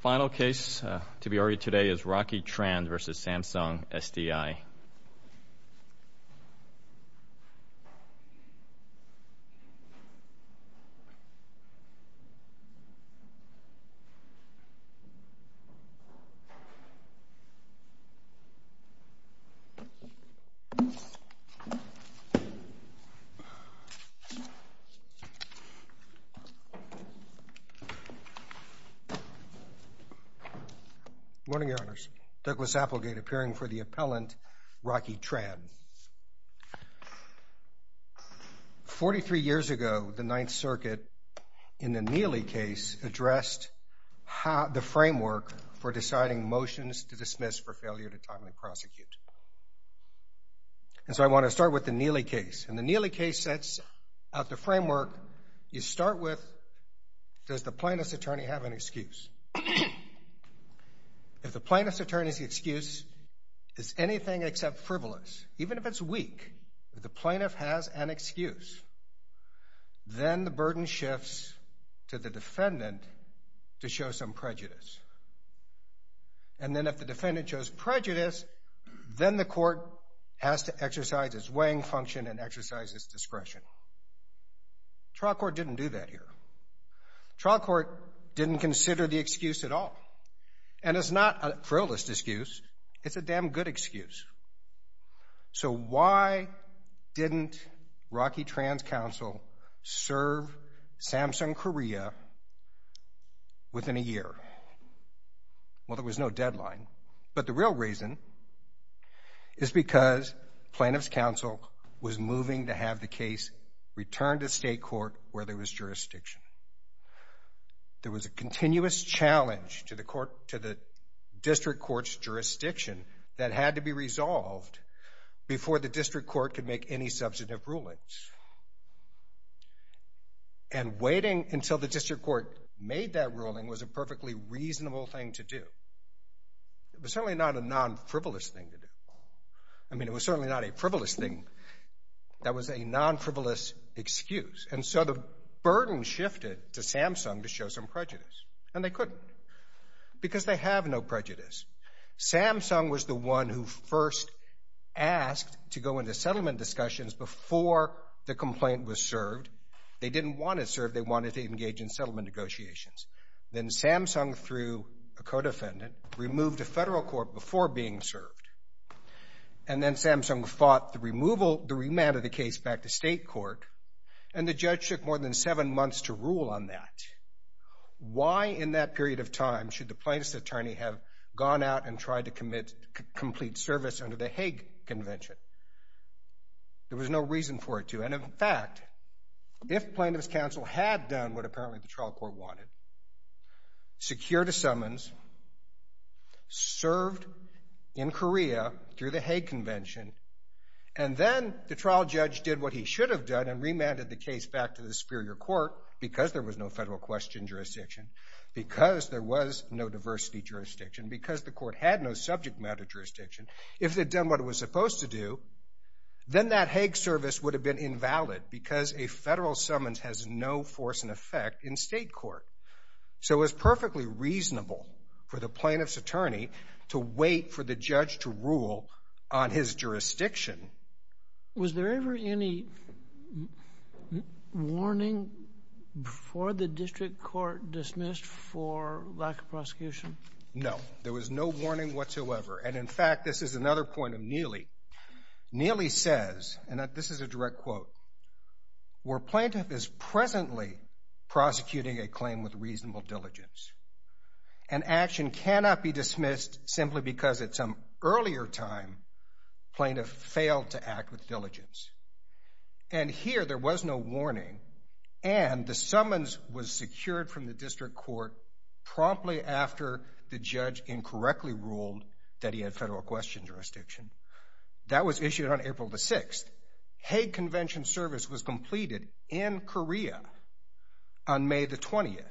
Final case to be audited today is Rocky Tran v. Samsung SDI. Good morning, Your Honors. Douglas Applegate, appearing for the appellant, Rocky Tran. Forty-three years ago, the Ninth Circuit, in the Neely case, addressed the framework for deciding motions to dismiss for failure to timely prosecute. So I want to start with the Neely case. In the Neely case, out of the framework, you start with, does the plaintiff's attorney have an excuse? If the plaintiff's attorney's excuse is anything except frivolous, even if it's weak, if the plaintiff has an excuse, then the burden shifts to the defendant to show some prejudice. And then if the defendant shows prejudice, then the court has to exercise its weighing function and exercise its discretion. Trial court didn't do that here. Trial court didn't consider the excuse at all. And it's not a frivolous excuse, it's a damn good excuse. So why didn't Rocky Tran's counsel serve Samsung Korea within a year? Well, there was no deadline, but the real reason is because plaintiff's counsel was moving to have the case returned to state court where there was jurisdiction. There was a continuous challenge to the district court's jurisdiction that had to be resolved before the district court could make any substantive rulings. And waiting until the district court made that ruling was a perfectly reasonable thing to do. It was certainly not a non-frivolous thing to do. I mean, it was certainly not a frivolous thing. That was a non-frivolous excuse. And so the burden shifted to Samsung to show some prejudice. And they couldn't, because they have no prejudice. Samsung was the one who first asked to go into settlement discussions before the complaint was served. They didn't want it served, they wanted to engage in settlement negotiations. Then Samsung, through a co-defendant, removed a federal court before being served. And then Samsung fought the remand of the case back to state court. And the judge took more than seven months to rule on that. Why, in that period of time, should the plaintiff's attorney have gone out and tried to commit complete service under the Hague Convention? There was no reason for it to. And, in fact, if plaintiff's counsel had done what apparently the trial court wanted, secured a summons, served in Korea through the Hague Convention, and then the trial judge did what he should have done and remanded the case back to the superior court because there was no federal question jurisdiction, because there was no diversity jurisdiction, because the court had no subject matter jurisdiction, if they'd done what it was supposed to do, then that Hague service would have been invalid because a federal summons has no force and effect in state court. So it was perfectly reasonable for the plaintiff's attorney to wait for the judge to rule on his jurisdiction. Was there ever any warning before the district court dismissed for lack of prosecution? No, there was no warning whatsoever. And, in fact, this is another point of Neely. Neely says, and this is a direct quote, where plaintiff is presently prosecuting a claim with reasonable diligence, and action cannot be dismissed simply because at some earlier time plaintiff failed to act with diligence. And here there was no warning, and the summons was secured from the district court promptly after the judge incorrectly ruled that he had federal question jurisdiction. That was issued on April the 6th. Hague convention service was completed in Korea on May the 20th.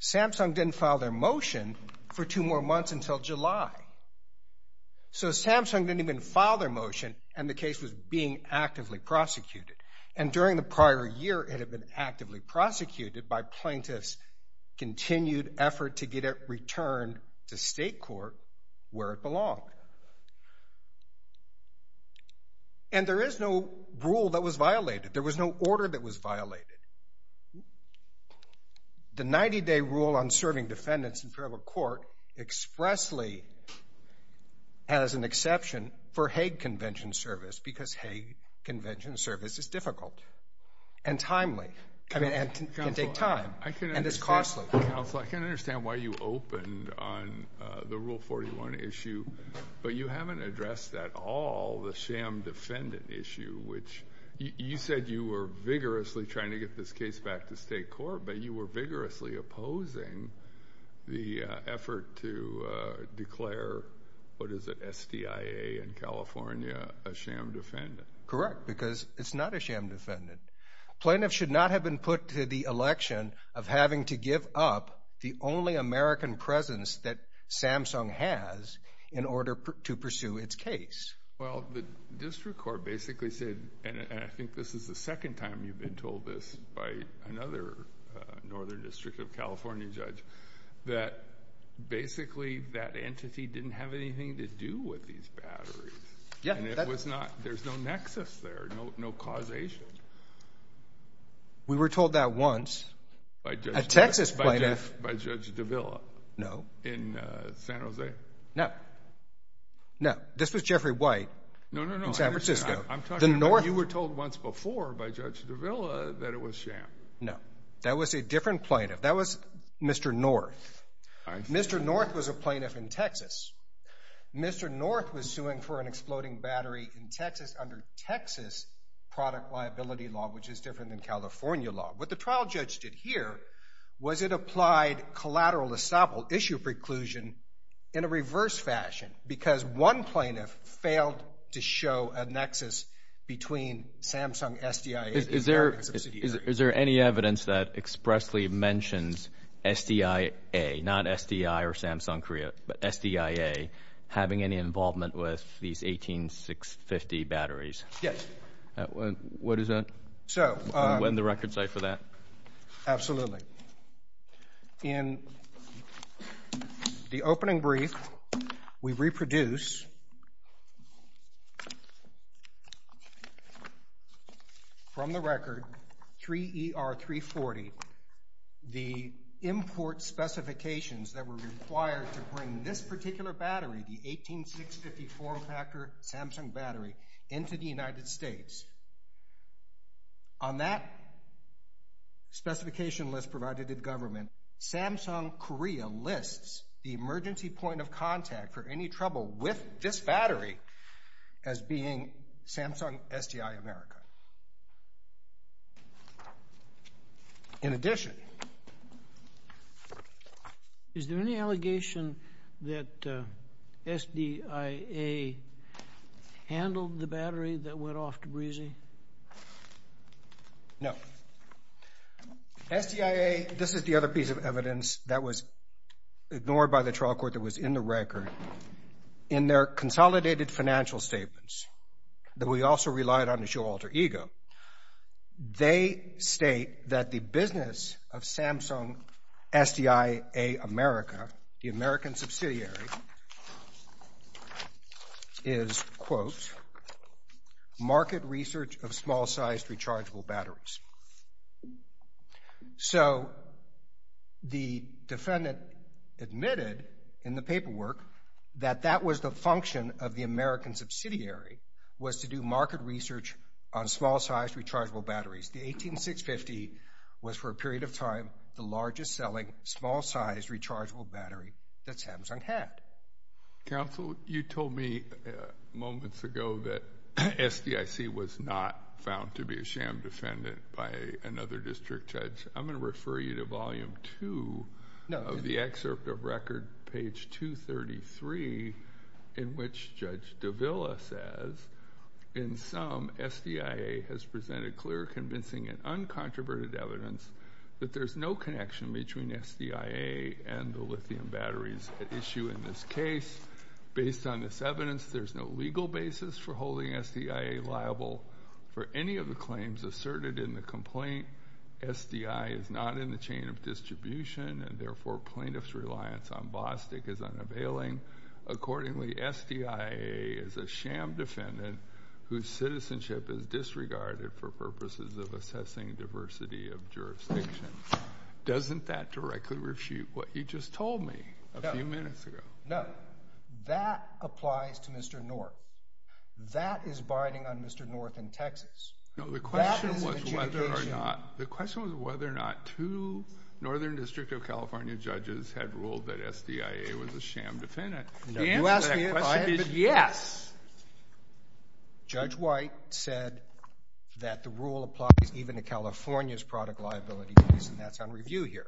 Samsung didn't file their motion for two more months until July. So Samsung didn't even file their motion, and the case was being actively prosecuted. And during the prior year it had been actively prosecuted by plaintiff's continued effort to get it returned to state court where it belonged. And there is no rule that was violated. There was no order that was violated. The 90-day rule on serving defendants in federal court expressly has an exception for Hague convention service because Hague convention service is difficult and timely and can take time and is costly. Counsel, I can understand why you opened on the Rule 41 issue, but you haven't addressed at all the sham defendant issue, which you said you were vigorously trying to get this case back to state court, but you were vigorously opposing the effort to declare, what is it, SDIA in California a sham defendant. Correct, because it's not a sham defendant. Plaintiff should not have been put to the election of having to give up the only American presence that Samsung has in order to pursue its case. Well, the district court basically said, and I think this is the second time you've been told this by another northern district of California judge, that basically that entity didn't have anything to do with these batteries. There's no nexus there, no causation. We were told that once. A Texas plaintiff. By Judge Davila. No. In San Jose. No. No, this was Jeffrey White in San Francisco. You were told once before by Judge Davila that it was sham. No, that was a different plaintiff. That was Mr. North. Mr. North was a plaintiff in Texas. Mr. North was suing for an exploding battery in Texas under Texas product liability law, which is different than California law. What the trial judge did here was it applied collateral estoppel, issue preclusion, in a reverse fashion, because one plaintiff failed to show a nexus between Samsung SDIA and American subsidiaries. Is there any evidence that expressly mentions SDIA, not SDI or Samsung Korea, but SDIA having any involvement with these 18650 batteries? Yes. What is that? So. And the record site for that? Absolutely. In the opening brief, we reproduce from the record, 3ER340, the import specifications that were required to bring this particular battery, the 18650 4-factor Samsung battery, into the United States. On that specification list provided in government, Samsung Korea lists the emergency point of contact for any trouble with this battery as being Samsung SDI America. In addition. Is there any allegation that SDIA handled the battery that went off to Breezy? No. SDIA, this is the other piece of evidence that was ignored by the trial court that was in the record. In their consolidated financial statements, that we also relied on to show alter ego, they state that the business of Samsung SDI America, the American subsidiary, is, quote, market research of small-sized rechargeable batteries. So, the defendant admitted in the paperwork that that was the function of the American subsidiary, was to do market research on small-sized rechargeable batteries. The 18650 was, for a period of time, the largest selling small-sized rechargeable battery that Samsung had. Counsel, you told me moments ago that SDIC was not found to be a sham defendant by another district judge. I'm going to refer you to volume two of the excerpt of record, page 233, in which Judge Davila says, in sum, SDIA has presented clear, convincing, and uncontroverted evidence that there's no connection between SDIA and the lithium batteries at issue in this case. Based on this evidence, there's no legal basis for holding SDIA liable for any of the claims asserted in the complaint. SDI is not in the chain of distribution, and therefore, plaintiff's reliance on Bostick is unavailing. Accordingly, SDIA is a sham defendant whose citizenship is disregarded for purposes of assessing diversity of jurisdiction. Doesn't that directly refute what you just told me a few minutes ago? No. That applies to Mr. North. That is biding on Mr. North in Texas. No, the question was whether or not two Northern District of California judges had ruled that SDIA was a sham defendant. The answer to that question is yes. Judge White said that the rule applies even to California's product liability case, and that's on review here.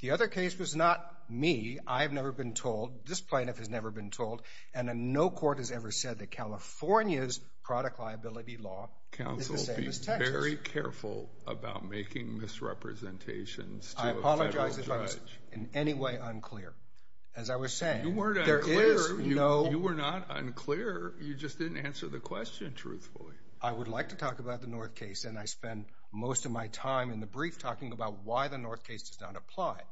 The other case was not me. I have never been told. This plaintiff has never been told. And no court has ever said that California's product liability law is the same as Texas. Counsel, be very careful about making misrepresentations to a federal judge. I apologize if I was in any way unclear. As I was saying, there is no— You weren't unclear. You were not unclear. You just didn't answer the question truthfully. I would like to talk about the North case, and I spend most of my time in the brief talking about why the North case does not apply.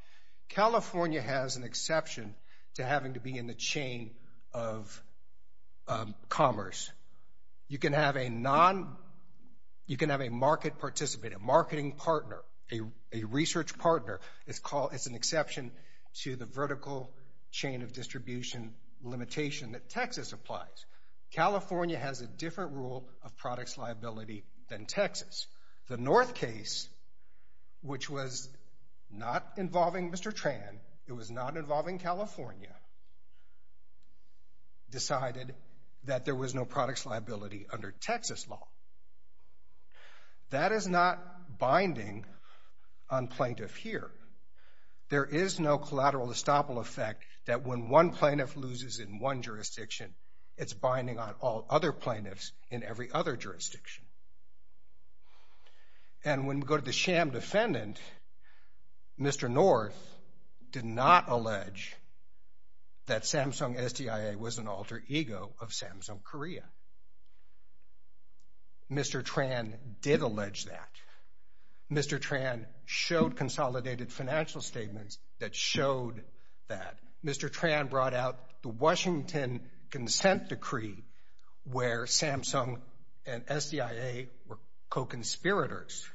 California has an exception to having to be in the chain of commerce. You can have a market participant, a marketing partner, a research partner. It's an exception to the vertical chain of distribution limitation that Texas applies. California has a different rule of products liability than Texas. The North case, which was not involving Mr. Tran, it was not involving California, decided that there was no products liability under Texas law. That is not binding on plaintiff here. There is no collateral estoppel effect that when one plaintiff loses in one jurisdiction, it's binding on all other plaintiffs in every other jurisdiction. And when we go to the sham defendant, Mr. North did not allege that Samsung STIA was an alter ego of Samsung Korea. Mr. Tran did allege that. Mr. Tran showed consolidated financial statements that showed that. Mr. Tran brought out the Washington consent decree where Samsung and STIA were co-conspirators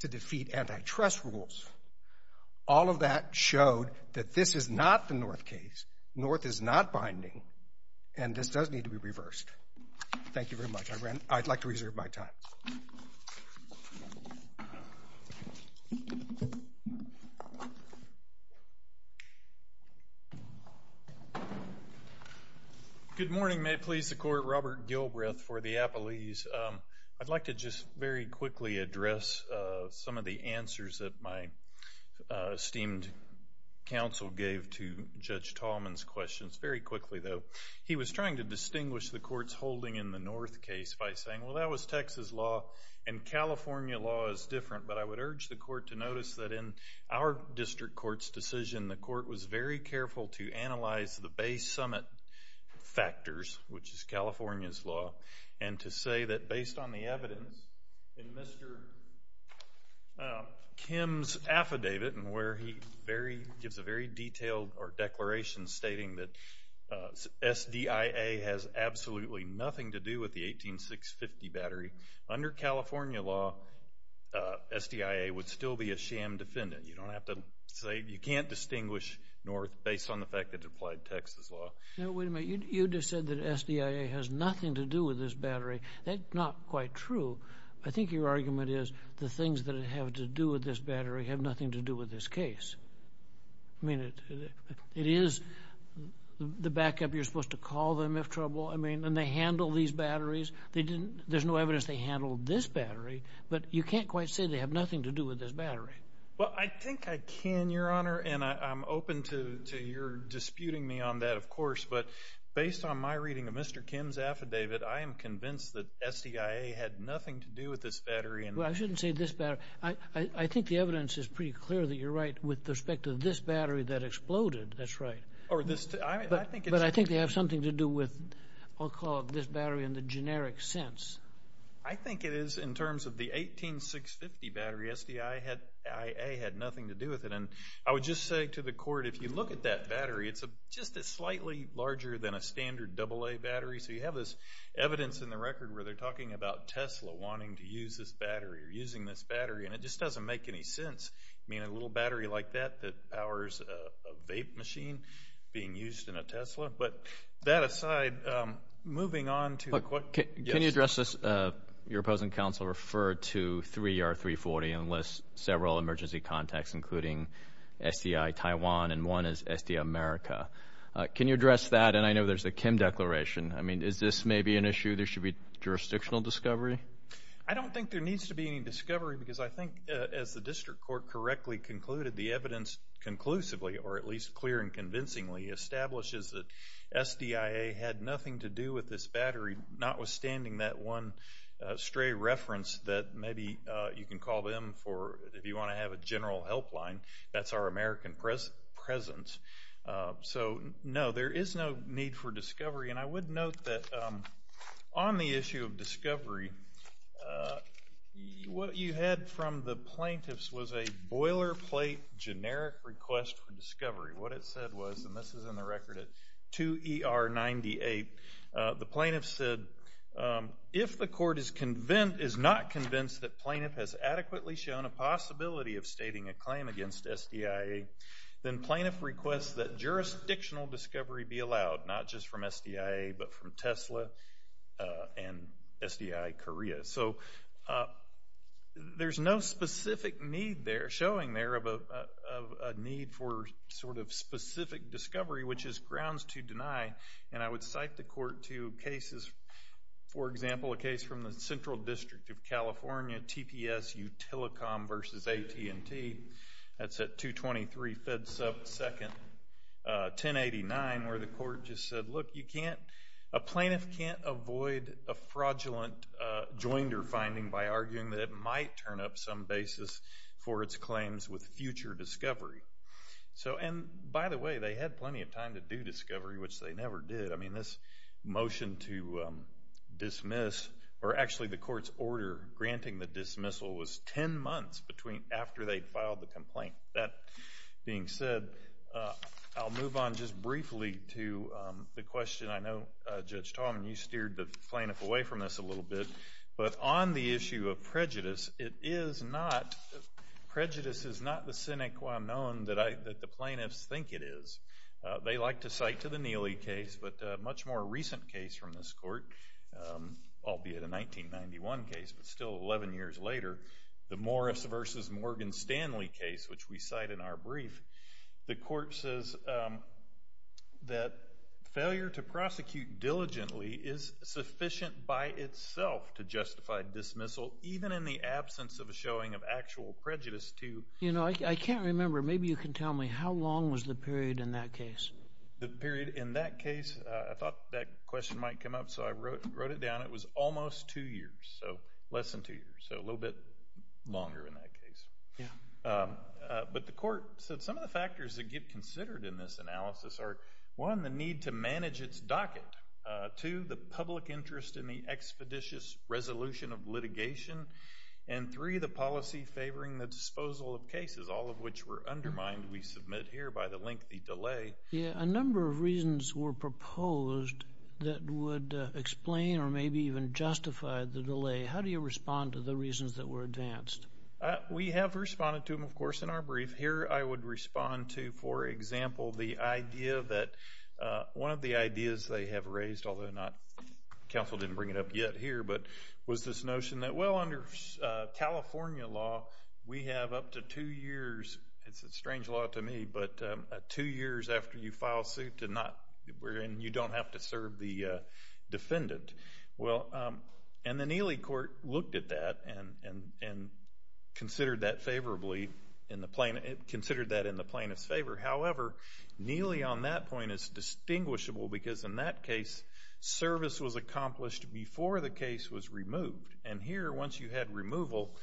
to defeat antitrust rules. All of that showed that this is not the North case. North is not binding, and this does need to be reversed. Thank you very much. I'd like to reserve my time. Good morning. May it please the Court. Robert Gilbreth for the Appalese. I'd like to just very quickly address some of the answers that my esteemed counsel gave to Judge Tallman's questions. Very quickly, though. He was trying to distinguish the Court's holding in the North case by saying, well, that was Texas law, and California law is different. But I would urge the Court to notice that in our district court's decision, the Court was very careful to analyze the base summit factors, which is California's law, and to say that based on the evidence in Mr. Kim's affidavit, where he gives a very detailed declaration stating that STIA has absolutely nothing to do with the 18650 battery. Under California law, STIA would still be a sham defendant. You don't have to say. You can't distinguish North based on the fact that it applied Texas law. Now, wait a minute. You just said that STIA has nothing to do with this battery. That's not quite true. I think your argument is the things that have to do with this battery have nothing to do with this case. I mean, it is the backup you're supposed to call them if trouble, and they handle these batteries. There's no evidence they handled this battery, but you can't quite say they have nothing to do with this battery. Well, I think I can, Your Honor, and I'm open to your disputing me on that, of course. But based on my reading of Mr. Kim's affidavit, I am convinced that STIA had nothing to do with this battery. Well, I shouldn't say this battery. I think the evidence is pretty clear that you're right with respect to this battery that exploded. That's right. But I think they have something to do with, I'll call it, this battery in the generic sense. I think it is in terms of the 18650 battery. STIA had nothing to do with it. And I would just say to the Court, if you look at that battery, it's just slightly larger than a standard AA battery. So you have this evidence in the record where they're talking about Tesla wanting to use this battery or using this battery, and it just doesn't make any sense. I mean, a little battery like that that powers a vape machine being used in a Tesla. But that aside, moving on to the question. Can you address this? Your opposing counsel referred to 3R340 and lists several emergency contacts, including STI Taiwan and one is STI America. Can you address that? And I know there's a Kim declaration. I mean, is this maybe an issue? There should be jurisdictional discovery. I don't think there needs to be any discovery because I think, as the District Court correctly concluded, the evidence conclusively, or at least clear and convincingly, establishes that SDIA had nothing to do with this battery, notwithstanding that one stray reference that maybe you can call them for, if you want to have a general helpline, that's our American presence. So, no, there is no need for discovery. And I would note that on the issue of discovery, what you had from the plaintiffs was a boilerplate generic request for discovery. What it said was, and this is in the record at 2ER98, the plaintiff said, if the court is not convinced that plaintiff has adequately shown a possibility of stating a claim against SDIA, then plaintiff requests that jurisdictional discovery be allowed, not just from SDIA, but from Tesla and SDI Korea. So, there is no specific need there, showing there, of a need for sort of specific discovery, which is grounds to deny. And I would cite the court to cases, for example, a case from the Central District of California, TPSU Telecom v. AT&T. That's at 223 Fed 2nd, 1089, where the court just said, look, you can't, a plaintiff can't avoid a fraudulent joinder finding by arguing that it might turn up some basis for its claims with future discovery. So, and by the way, they had plenty of time to do discovery, which they never did. I mean, this motion to dismiss, or actually the court's order granting the dismissal, that being said, I'll move on just briefly to the question. I know, Judge Tallman, you steered the plaintiff away from this a little bit, but on the issue of prejudice, it is not, prejudice is not the sine qua non that the plaintiffs think it is. They like to cite to the Neely case, but a much more recent case from this court, albeit a 1991 case, but still 11 years later, the Morris v. Morgan Stanley case, which we cite in our brief, the court says that failure to prosecute diligently is sufficient by itself to justify dismissal, even in the absence of a showing of actual prejudice to You know, I can't remember, maybe you can tell me, how long was the period in that case? The period in that case, I thought that question might come up, so I wrote it down, it was almost two years, so less than two years, so a little bit longer in that case. But the court said some of the factors that get considered in this analysis are, one, the need to manage its docket, two, the public interest in the expeditious resolution of litigation, and three, the policy favoring the disposal of cases, all of which were undermined, we submit here, by the lengthy delay. A number of reasons were proposed that would explain or maybe even justify the delay. How do you respond to the reasons that were advanced? We have responded to them, of course, in our brief. Here I would respond to, for example, the idea that one of the ideas they have raised, although counsel didn't bring it up yet here, was this notion that, well, under California law, we have up to two years, it's a strange law to me, but two years after you file suit and you don't have to serve the defendant. And the Neely court looked at that and considered that in the plaintiff's favor. However, Neely on that point is distinguishable because in that case service was accomplished before the case was removed. And here, once you had removal,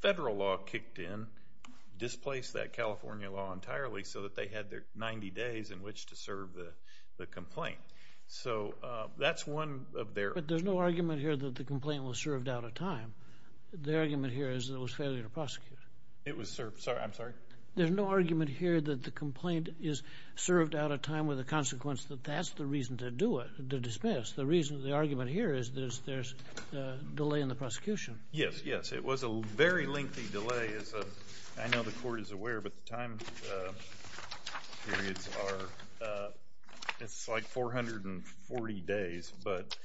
federal law kicked in, displaced that California law entirely so that they had 90 days in which to serve the complaint. So that's one of their. But there's no argument here that the complaint was served out of time. The argument here is that it was a failure to prosecute. It was served. I'm sorry? There's no argument here that the complaint is served out of time with the consequence that that's the reason to do it, to dismiss. The reason, the argument here is there's a delay in the prosecution. Yes, yes. It was a very lengthy delay. I know the court is aware, but the time periods are, it's like 440 days. But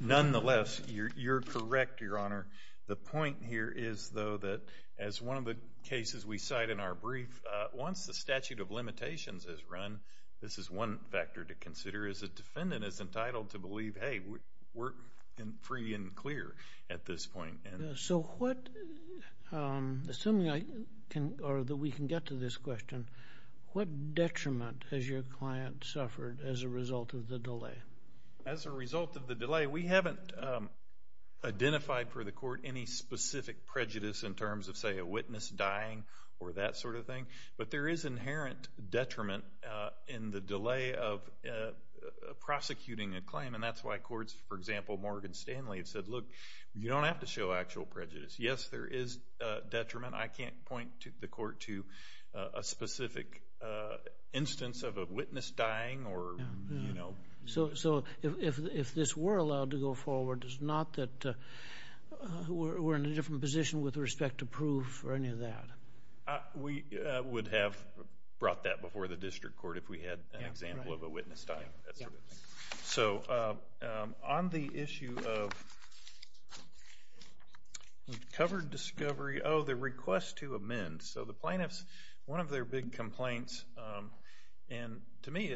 nonetheless, you're correct, Your Honor. The point here is, though, that as one of the cases we cite in our brief, once the statute of limitations is run, this is one factor to consider, is a defendant is entitled to believe, hey, we're free and clear at this point. So what, assuming that we can get to this question, what detriment has your client suffered as a result of the delay? As a result of the delay, we haven't identified for the court any specific prejudice in terms of, say, a witness dying or that sort of thing. But there is inherent detriment in the delay of prosecuting a claim, and that's why courts, for example, Morgan Stanley said, look, you don't have to show actual prejudice. Yes, there is detriment. I can't point the court to a specific instance of a witness dying or, you know. So if this were allowed to go forward, it's not that we're in a different position with respect to proof or any of that? We would have brought that before the district court if we had an example of a witness dying. So on the issue of covered discovery, oh, the request to amend. So the plaintiff's, one of their big complaints, and to me,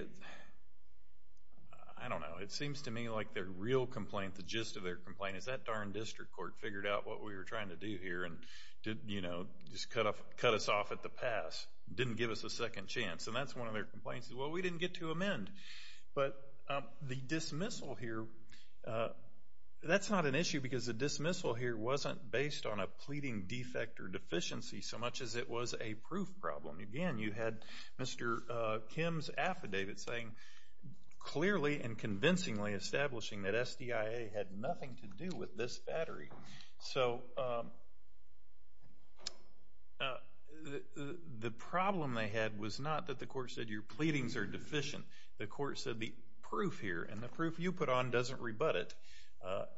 I don't know, it seems to me like their real complaint, the gist of their complaint, is that darn district court figured out what we were trying to do here and, you know, just cut us off at the pass, didn't give us a second chance. And that's one of their complaints is, well, we didn't get to amend. But the dismissal here, that's not an issue because the dismissal here wasn't based on a pleading defect or deficiency so much as it was a proof problem. Again, you had Mr. Kim's affidavit saying, clearly and convincingly establishing that SDIA had nothing to do with this battery. So the problem they had was not that the court said your pleadings are deficient. The court said the proof here, and the proof you put on doesn't rebut it,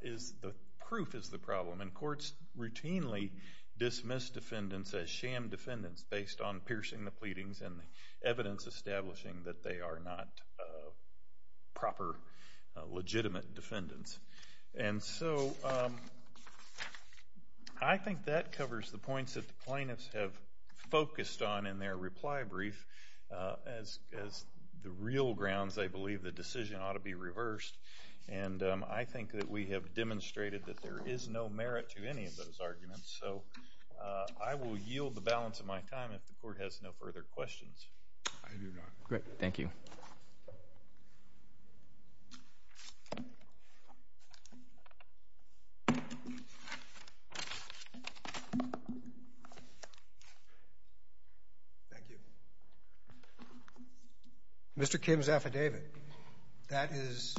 is the proof is the problem. And courts routinely dismiss defendants as sham defendants based on piercing the pleadings and the evidence establishing that they are not proper, legitimate defendants. And so I think that covers the points that the plaintiffs have focused on in their reply brief as the real grounds, I believe, the decision ought to be reversed. And I think that we have demonstrated that there is no merit to any of those arguments. So I will yield the balance of my time if the court has no further questions. Great. Thank you. Mr. Kim's affidavit. That is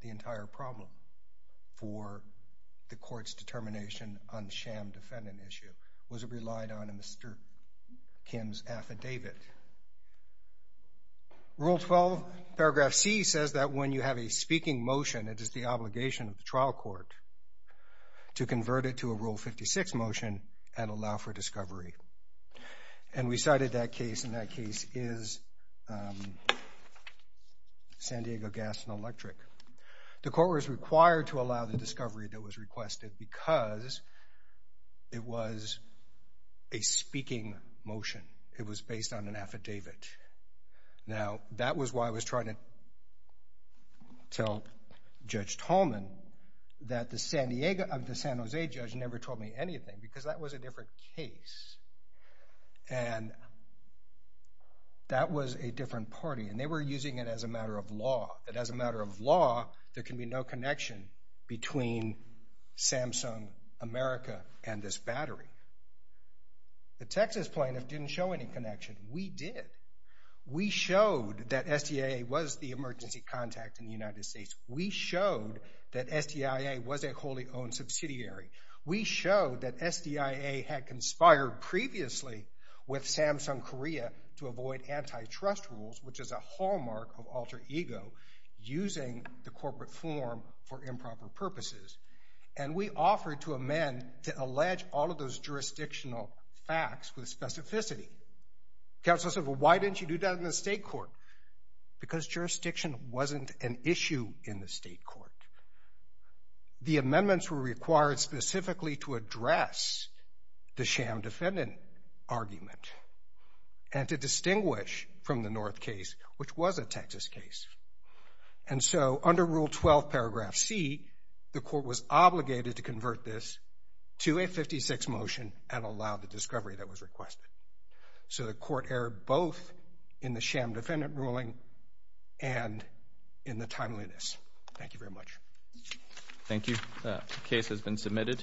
the entire problem for the court's determination on the sham defendant issue. It was relied on in Mr. Kim's affidavit. Rule 12, paragraph C, says that when you have a speaking motion, it is the obligation of the trial court to convert it to a Rule 56 motion and allow for discovery. And we cited that case, and that case is San Diego Gas and Electric. The court was required to allow the discovery that was requested because it was a speaking motion. It was based on an affidavit. Now, that was why I was trying to tell Judge Tallman that the San Jose judge never told me anything because that was a different case. And that was a different party, and they were using it as a matter of law. That as a matter of law, there can be no connection between Samsung America and this battery. The Texas plaintiff didn't show any connection. We did. We showed that SDIA was the emergency contact in the United States. We showed that SDIA was a wholly owned subsidiary. We showed that SDIA had conspired previously with Samsung Korea to avoid antitrust rules, which is a hallmark of alter ego, using the corporate form for improper purposes. And we offered to amend to allege all of those jurisdictional facts with specificity. Counsel said, well, why didn't you do that in the state court? Because jurisdiction wasn't an issue in the state court. The amendments were required specifically to address the sham defendant argument and to distinguish from the North case, which was a Texas case. And so under Rule 12, Paragraph C, the court was obligated to convert this to a 56 motion and allow the discovery that was requested. So the court erred both in the sham defendant ruling and in the timeliness. Thank you very much. Thank you. The case has been submitted,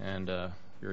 and you're adjourned.